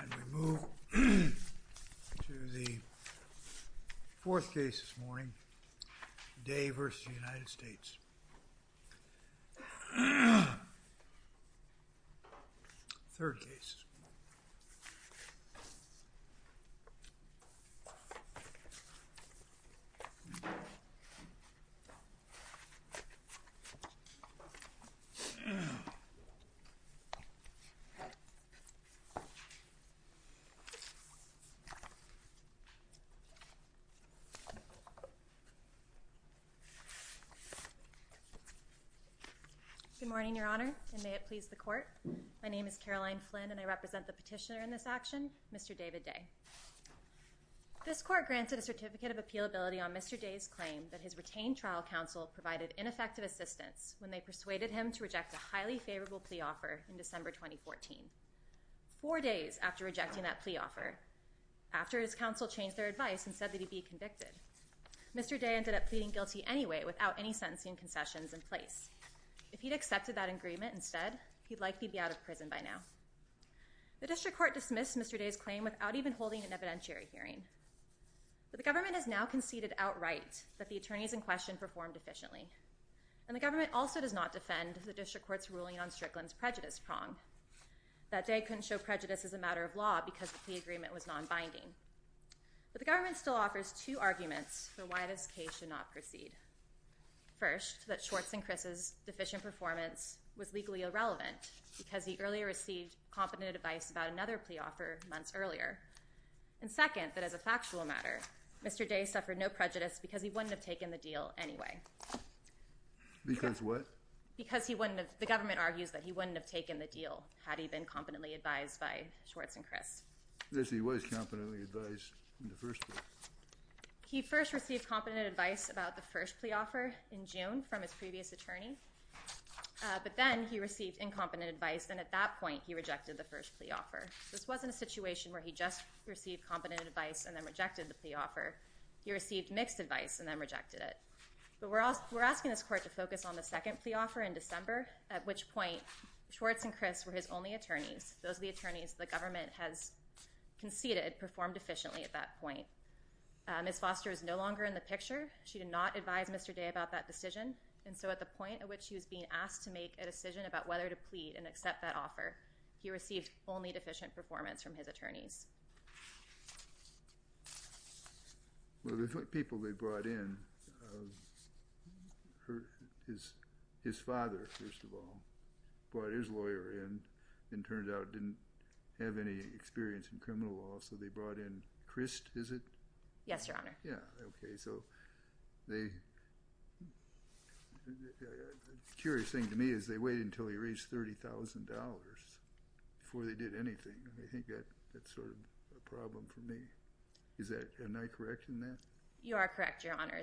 And we move to the fourth case this morning, Day v. United States, third case. Good morning, Your Honor, and may it please the Court. My name is Caroline Flynn, and I represent the petitioner in this action, Mr. David Day. This Court granted a Certificate of Appealability on Mr. Day's claim that his retained trial counsel provided ineffective assistance when they persuaded him to reject a highly favorable plea offer in December 2014. Four days after rejecting that plea offer, after his counsel changed their advice and said that he'd be convicted, Mr. Day ended up pleading guilty anyway without any sentencing concessions in place. If he'd accepted that agreement instead, he'd likely be out of prison by now. The District Court dismissed Mr. Day's claim without even holding an evidentiary hearing. But the government has now conceded outright that the attorneys in question performed efficiently, and the government also does not defend the District Court's ruling on Strickland's prejudice prong, that Day couldn't show prejudice as a matter of law because the plea agreement was non-binding. But the government still offers two arguments for why this case should not proceed. First, that Schwartz and Criss's deficient performance was legally irrelevant because he earlier received competent advice about another plea offer months earlier. And second, that as a factual matter, Mr. Day suffered no prejudice because he wouldn't have taken the deal anyway. Because what? Because the government argues that he wouldn't have taken the deal had he been competently advised by Schwartz and Criss. Yes, he was competently advised in the first place. He first received competent advice about the first plea offer in June from his previous attorney. But then he received incompetent advice, and at that point he rejected the first plea offer. This wasn't a situation where he just received competent advice and then rejected the plea offer. He received mixed advice and then rejected it. But we're asking this court to focus on the second plea offer in December, at which point Schwartz and Criss were his only attorneys. Those are the attorneys the government has conceded performed efficiently at that point. Ms. Foster is no longer in the picture. She did not advise Mr. Day about that decision, and so at the point at which she was being asked to make a decision about whether to plead and accept that offer, he received only deficient performance from his attorneys. Well, the people they brought in, his father, first of all, brought his lawyer in and turned out didn't have any experience in criminal law, so they brought in Criss, is it? Yes, Your Honor. Okay, so the curious thing to me is they waited until he reached $30,000 before they did anything. I think that's sort of a problem for me. Am I correct in that? You are correct, Your Honor.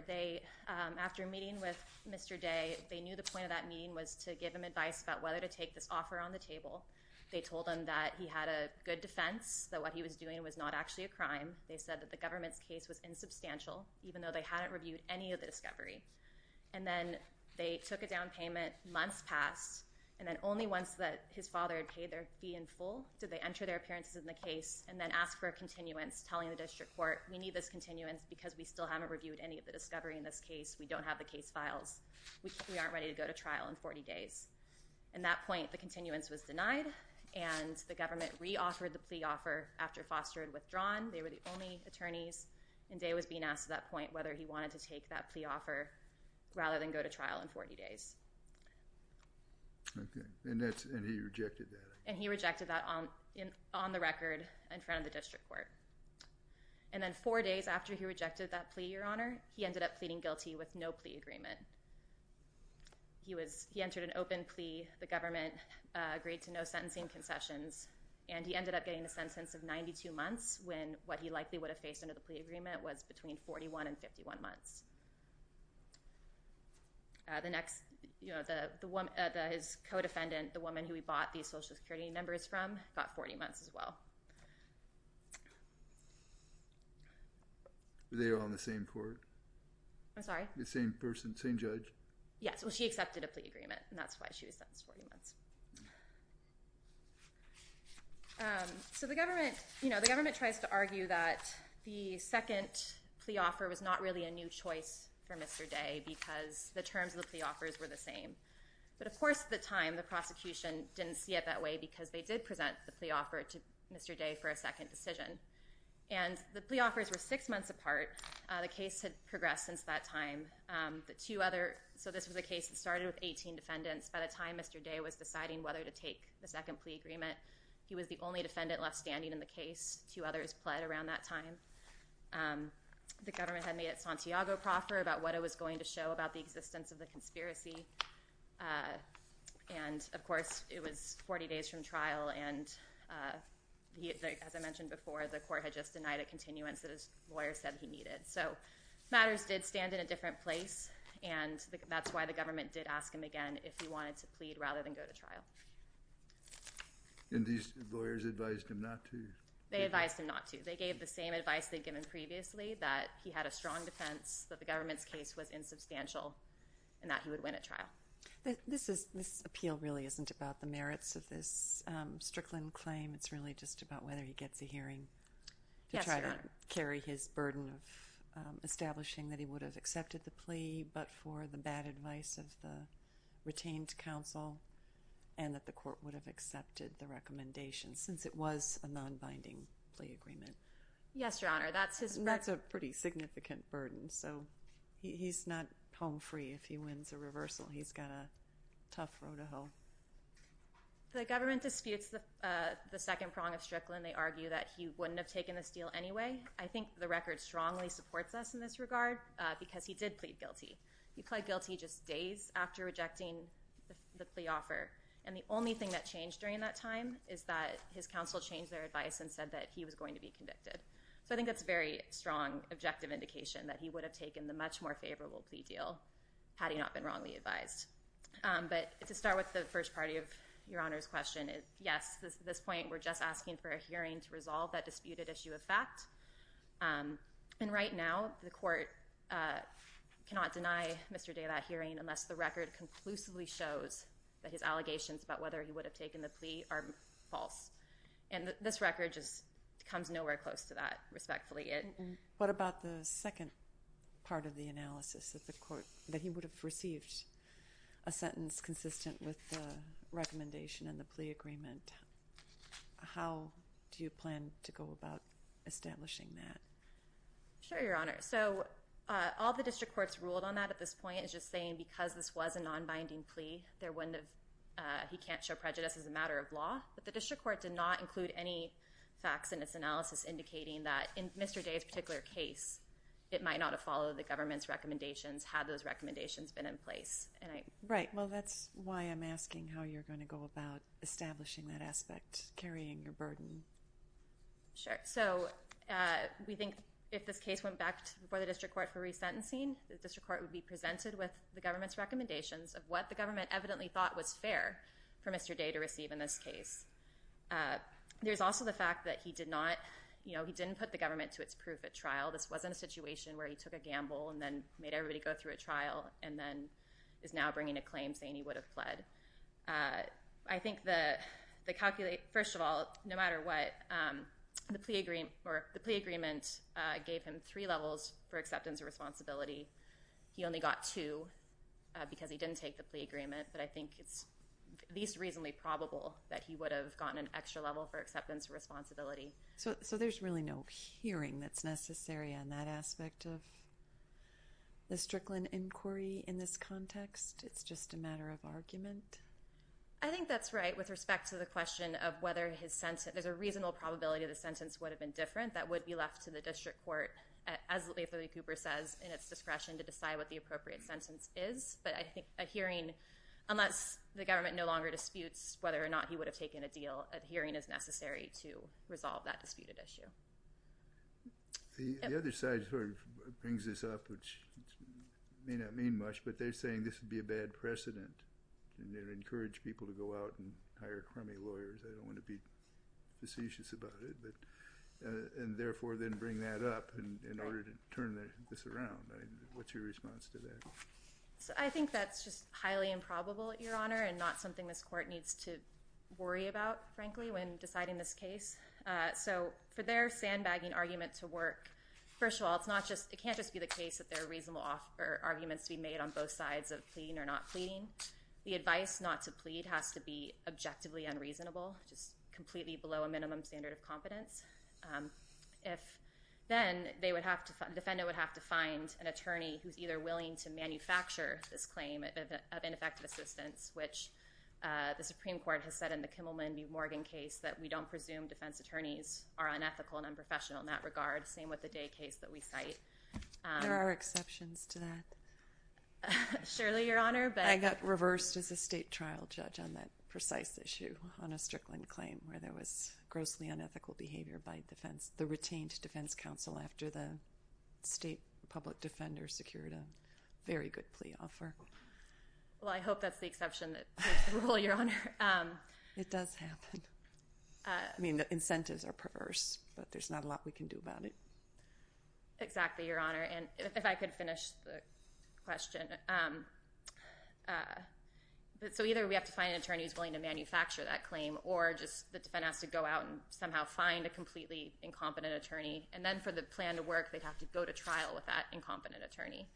After meeting with Mr. Day, they knew the point of that meeting was to give him advice about whether to take this offer on the table. They told him that he had a good defense, that what he was doing was not actually a crime. They said that the government's case was insubstantial, even though they hadn't reviewed any of the discovery. And then they took a down payment. Months passed, and then only once his father had paid their fee in full did they enter their appearances in the case and then ask for a continuance, telling the district court, we need this continuance because we still haven't reviewed any of the discovery in this case. We don't have the case files. We aren't ready to go to trial in 40 days. At that point, the continuance was denied, and the government re-offered the plea offer after Foster had withdrawn. They were the only attorneys, and Day was being asked at that point whether he wanted to take that plea offer rather than go to trial in 40 days. And he rejected that? And he rejected that on the record in front of the district court. And then four days after he rejected that plea, Your Honor, he ended up pleading guilty with no plea agreement. He entered an open plea. The government agreed to no sentencing concessions, and he ended up getting a sentence of 92 months when what he likely would have faced under the plea agreement was between 41 and 51 months. The next, you know, his co-defendant, the woman who he bought these Social Security numbers from, got 40 months as well. Were they all on the same court? I'm sorry? The same person, same judge? Yes. Well, she accepted a plea agreement, and that's why she was sentenced 40 months. So the government, you know, the government tries to argue that the second plea offer was not really a new choice for Mr. Day because the terms of the plea offers were the same. But, of course, at the time, the prosecution didn't see it that way because they did present the plea offer to Mr. Day for a second decision. And the plea offers were six months apart. The case had progressed since that time. So this was a case that started with 18 defendants. By the time Mr. Day was deciding whether to take the second plea agreement, he was the only defendant left standing in the case. Two others pled around that time. The government had made a Santiago proffer about what it was going to show about the existence of the conspiracy. And, of course, it was 40 days from trial, and as I mentioned before, the court had just denied a continuance that his lawyer said he needed. So matters did stand in a different place, and that's why the government did ask him again if he wanted to plead rather than go to trial. And these lawyers advised him not to? They advised him not to. They gave the same advice they'd given previously, that he had a strong defense, that the government's case was insubstantial, and that he would win at trial. This appeal really isn't about the merits of this Strickland claim. It's really just about whether he gets a hearing to try to carry his burden of establishing that he would have accepted the plea but for the bad advice of the retained counsel and that the court would have accepted the recommendation since it was a nonbinding plea agreement. Yes, Your Honor. That's a pretty significant burden. So he's not home free if he wins a reversal. He's got a tough road to hoe. The government disputes the second prong of Strickland. They argue that he wouldn't have taken this deal anyway. I think the record strongly supports us in this regard because he did plead guilty. He pled guilty just days after rejecting the plea offer, and the only thing that changed during that time is that his counsel changed their advice and said that he was going to be convicted. So I think that's a very strong objective indication that he would have taken the much more favorable plea deal had he not been wrongly advised. But to start with the first part of Your Honor's question, yes, at this point we're just asking for a hearing to resolve that disputed issue of fact. And right now the court cannot deny Mr. Day that hearing unless the record conclusively shows that his allegations about whether he would have taken the plea are false. And this record just comes nowhere close to that, respectfully. What about the second part of the analysis that he would have received, a sentence consistent with the recommendation and the plea agreement? How do you plan to go about establishing that? Sure, Your Honor. So all the district courts ruled on that at this point is just saying because this was a nonbinding plea, he can't show prejudice as a matter of law. But the district court did not include any facts in its analysis indicating that in Mr. Day's particular case, it might not have followed the government's recommendations had those recommendations been in place. Right. Well, that's why I'm asking how you're going to go about establishing that aspect, carrying your burden. Sure. So we think if this case went back to before the district court for resentencing, the district court would be presented with the government's recommendations of what the government evidently thought was fair for Mr. Day to receive in this case. There's also the fact that he did not, you know, he didn't put the government to its proof at trial. This wasn't a situation where he took a gamble and then made everybody go through a trial and then is now bringing a claim saying he would have pled. I think the calculate, first of all, no matter what, the plea agreement gave him three levels for acceptance of responsibility. He only got two because he didn't take the plea agreement. But I think it's at least reasonably probable that he would have gotten an extra level for acceptance of responsibility. So there's really no hearing that's necessary on that aspect of the Strickland inquiry in this context? It's just a matter of argument? I think that's right with respect to the question of whether his sentence, there's a reasonable probability the sentence would have been different. That would be left to the district court, as Leigh Thurley Cooper says, in its discretion to decide what the appropriate sentence is. But I think a hearing, unless the government no longer disputes whether or not he would have taken a deal, a hearing is necessary to resolve that disputed issue. The other side sort of brings this up, which may not mean much, but they're saying this would be a bad precedent and they would encourage people to go out and hire crummy lawyers. I don't want to be facetious about it, and therefore then bring that up in order to turn this around. What's your response to that? I think that's just highly improbable, Your Honor, and not something this court needs to worry about, frankly, when deciding this case. So for their sandbagging argument to work, first of all, it can't just be the case that there are reasonable arguments to be made on both sides of pleading or not pleading. The advice not to plead has to be objectively unreasonable, just completely below a minimum standard of competence. Then the defendant would have to find an attorney who's either willing to manufacture this claim of ineffective assistance, which the Supreme Court has said in the Kimmelman v. Morgan case that we don't presume defense attorneys are unethical and unprofessional in that regard, same with the Day case that we cite. There are exceptions to that. Surely, Your Honor, but— I got reversed as a state trial judge on that precise issue on a Strickland claim where there was grossly unethical behavior by the retained defense counsel after the state public defender secured a very good plea offer. Well, I hope that's the exception that breaks the rule, Your Honor. It does happen. I mean, the incentives are perverse, but there's not a lot we can do about it. Exactly, Your Honor, and if I could finish the question. So either we have to find an attorney who's willing to manufacture that claim or just the defendant has to go out and somehow find a completely incompetent attorney, and then for the plan to work, they'd have to go to trial with that incompetent attorney,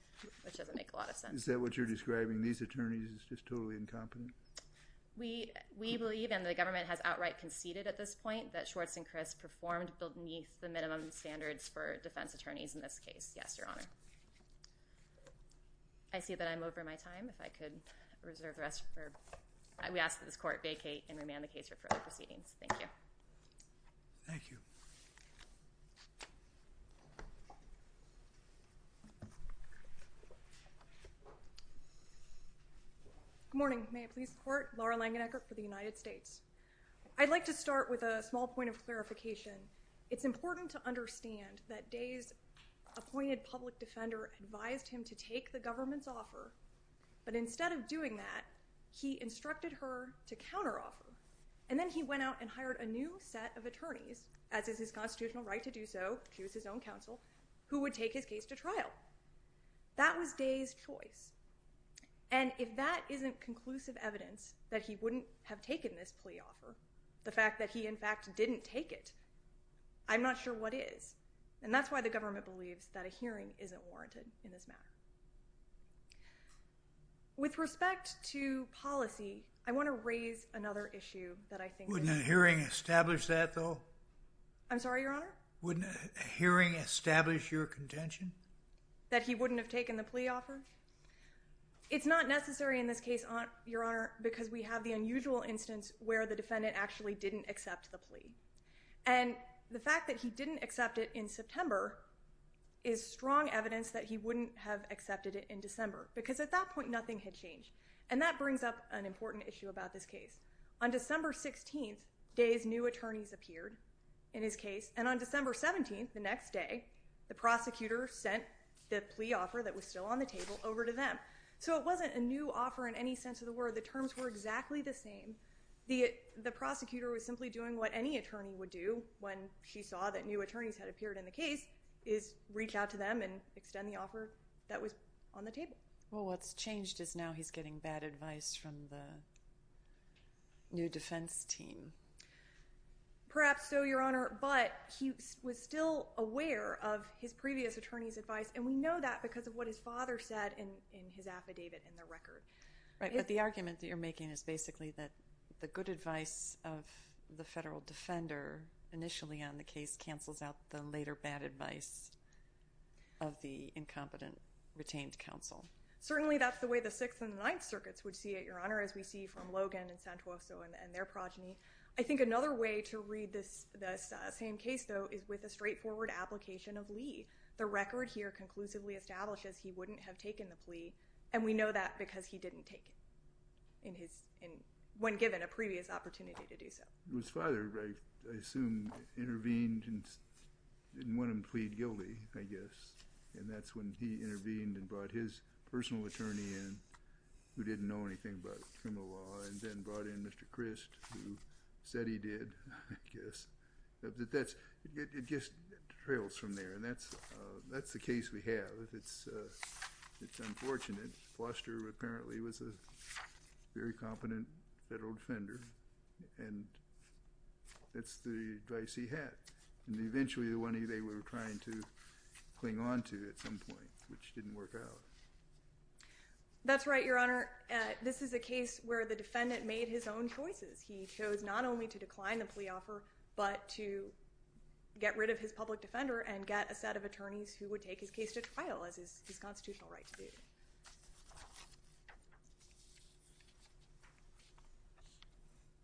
which doesn't make a lot of sense. Is that what you're describing, these attorneys as just totally incompetent? We believe, and the government has outright conceded at this point, that Schwartz and Criss performed beneath the minimum standards for defense attorneys in this case. Yes, Your Honor. I see that I'm over my time. If I could reserve the rest. We ask that this court vacate and remand the case for further proceedings. Thank you. Thank you. Good morning. May it please the Court. Laura Langenegger for the United States. I'd like to start with a small point of clarification. It's important to understand that Day's appointed public defender advised him to take the government's offer, but instead of doing that, he instructed her to counteroffer. And then he went out and hired a new set of attorneys, as is his constitutional right to do so, she was his own counsel, who would take his case to trial. That was Day's choice. And if that isn't conclusive evidence that he wouldn't have taken this plea offer, the fact that he, in fact, didn't take it, I'm not sure what is. And that's why the government believes that a hearing isn't warranted in this matter. With respect to policy, I want to raise another issue that I think is important. Wouldn't a hearing establish that, though? I'm sorry, Your Honor? Wouldn't a hearing establish your contention? That he wouldn't have taken the plea offer? It's not necessary in this case, Your Honor, because we have the unusual instance where the defendant actually didn't accept the plea. And the fact that he didn't accept it in September is strong evidence that he wouldn't have accepted it in December, because at that point, nothing had changed. And that brings up an important issue about this case. On December 16th, Day's new attorneys appeared in his case, and on December 17th, the next day, the prosecutor sent the plea offer that was still on the table over to them. So it wasn't a new offer in any sense of the word. The terms were exactly the same. The prosecutor was simply doing what any attorney would do when she saw that new attorneys had appeared in the case, is reach out to them and extend the offer that was on the table. Well, what's changed is now he's getting bad advice from the new defense team. Perhaps so, Your Honor, but he was still aware of his previous attorney's advice, and we know that because of what his father said in his affidavit in the record. Right, but the argument that you're making is basically that the good advice of the federal defender initially on the case cancels out the later bad advice of the incompetent retained counsel. Certainly, that's the way the Sixth and the Ninth Circuits would see it, Your Honor, as far as we see from Logan and Santoso and their progeny. I think another way to read this same case, though, is with a straightforward application of Lee. The record here conclusively establishes he wouldn't have taken the plea, and we know that because he didn't take it when given a previous opportunity to do so. His father, I assume, intervened and didn't want him to plead guilty, I guess, and that's when he intervened and brought his personal attorney in who didn't know anything about criminal law and then brought in Mr. Crist who said he did, I guess. It just trails from there, and that's the case we have. It's unfortunate. Foster apparently was a very competent federal defender, and that's the advice he had. Eventually, the one they were trying to cling on to at some point, which didn't work out. That's right, Your Honor. This is a case where the defendant made his own choices. He chose not only to decline the plea offer but to get rid of his public defender and get a set of attorneys who would take his case to trial as his constitutional right to do.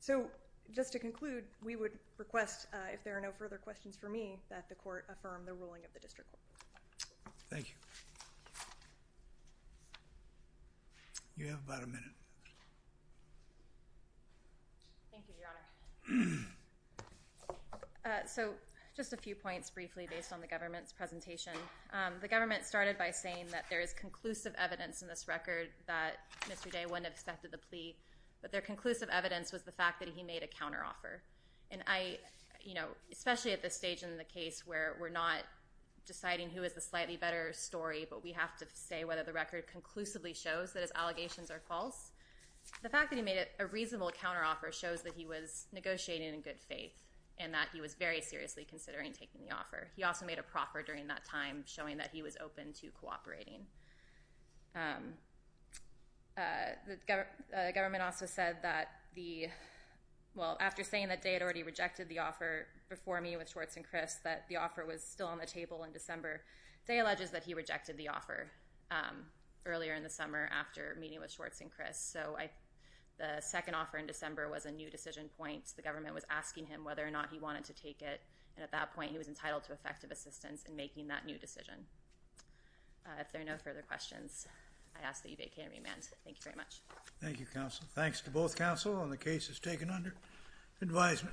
So just to conclude, we would request, if there are no further questions for me, that the court affirm the ruling of the district court. Thank you. You have about a minute. Thank you, Your Honor. The government started by saying that there is conclusive evidence in this record that Mr. Day wouldn't have accepted the plea, but their conclusive evidence was the fact that he made a counteroffer. Especially at this stage in the case where we're not deciding who is the slightly better story, but we have to say whether the record conclusively shows that his allegations are false, the fact that he made a reasonable counteroffer shows that he was negotiating in good faith and that he was very seriously considering taking the offer. He also made a proffer during that time, showing that he was open to cooperating. The government also said that the – well, after saying that Day had already rejected the offer before me with Schwartz and Criss, that the offer was still on the table in December, Day alleges that he rejected the offer earlier in the summer after meeting with Schwartz and Criss. So the second offer in December was a new decision point. The government was asking him whether or not he wanted to take it, and at that point he was entitled to effective assistance in making that new decision. If there are no further questions, I ask that you vacate and remand. Thank you very much. Thank you, counsel. Thanks to both counsel on the cases taken under advisement.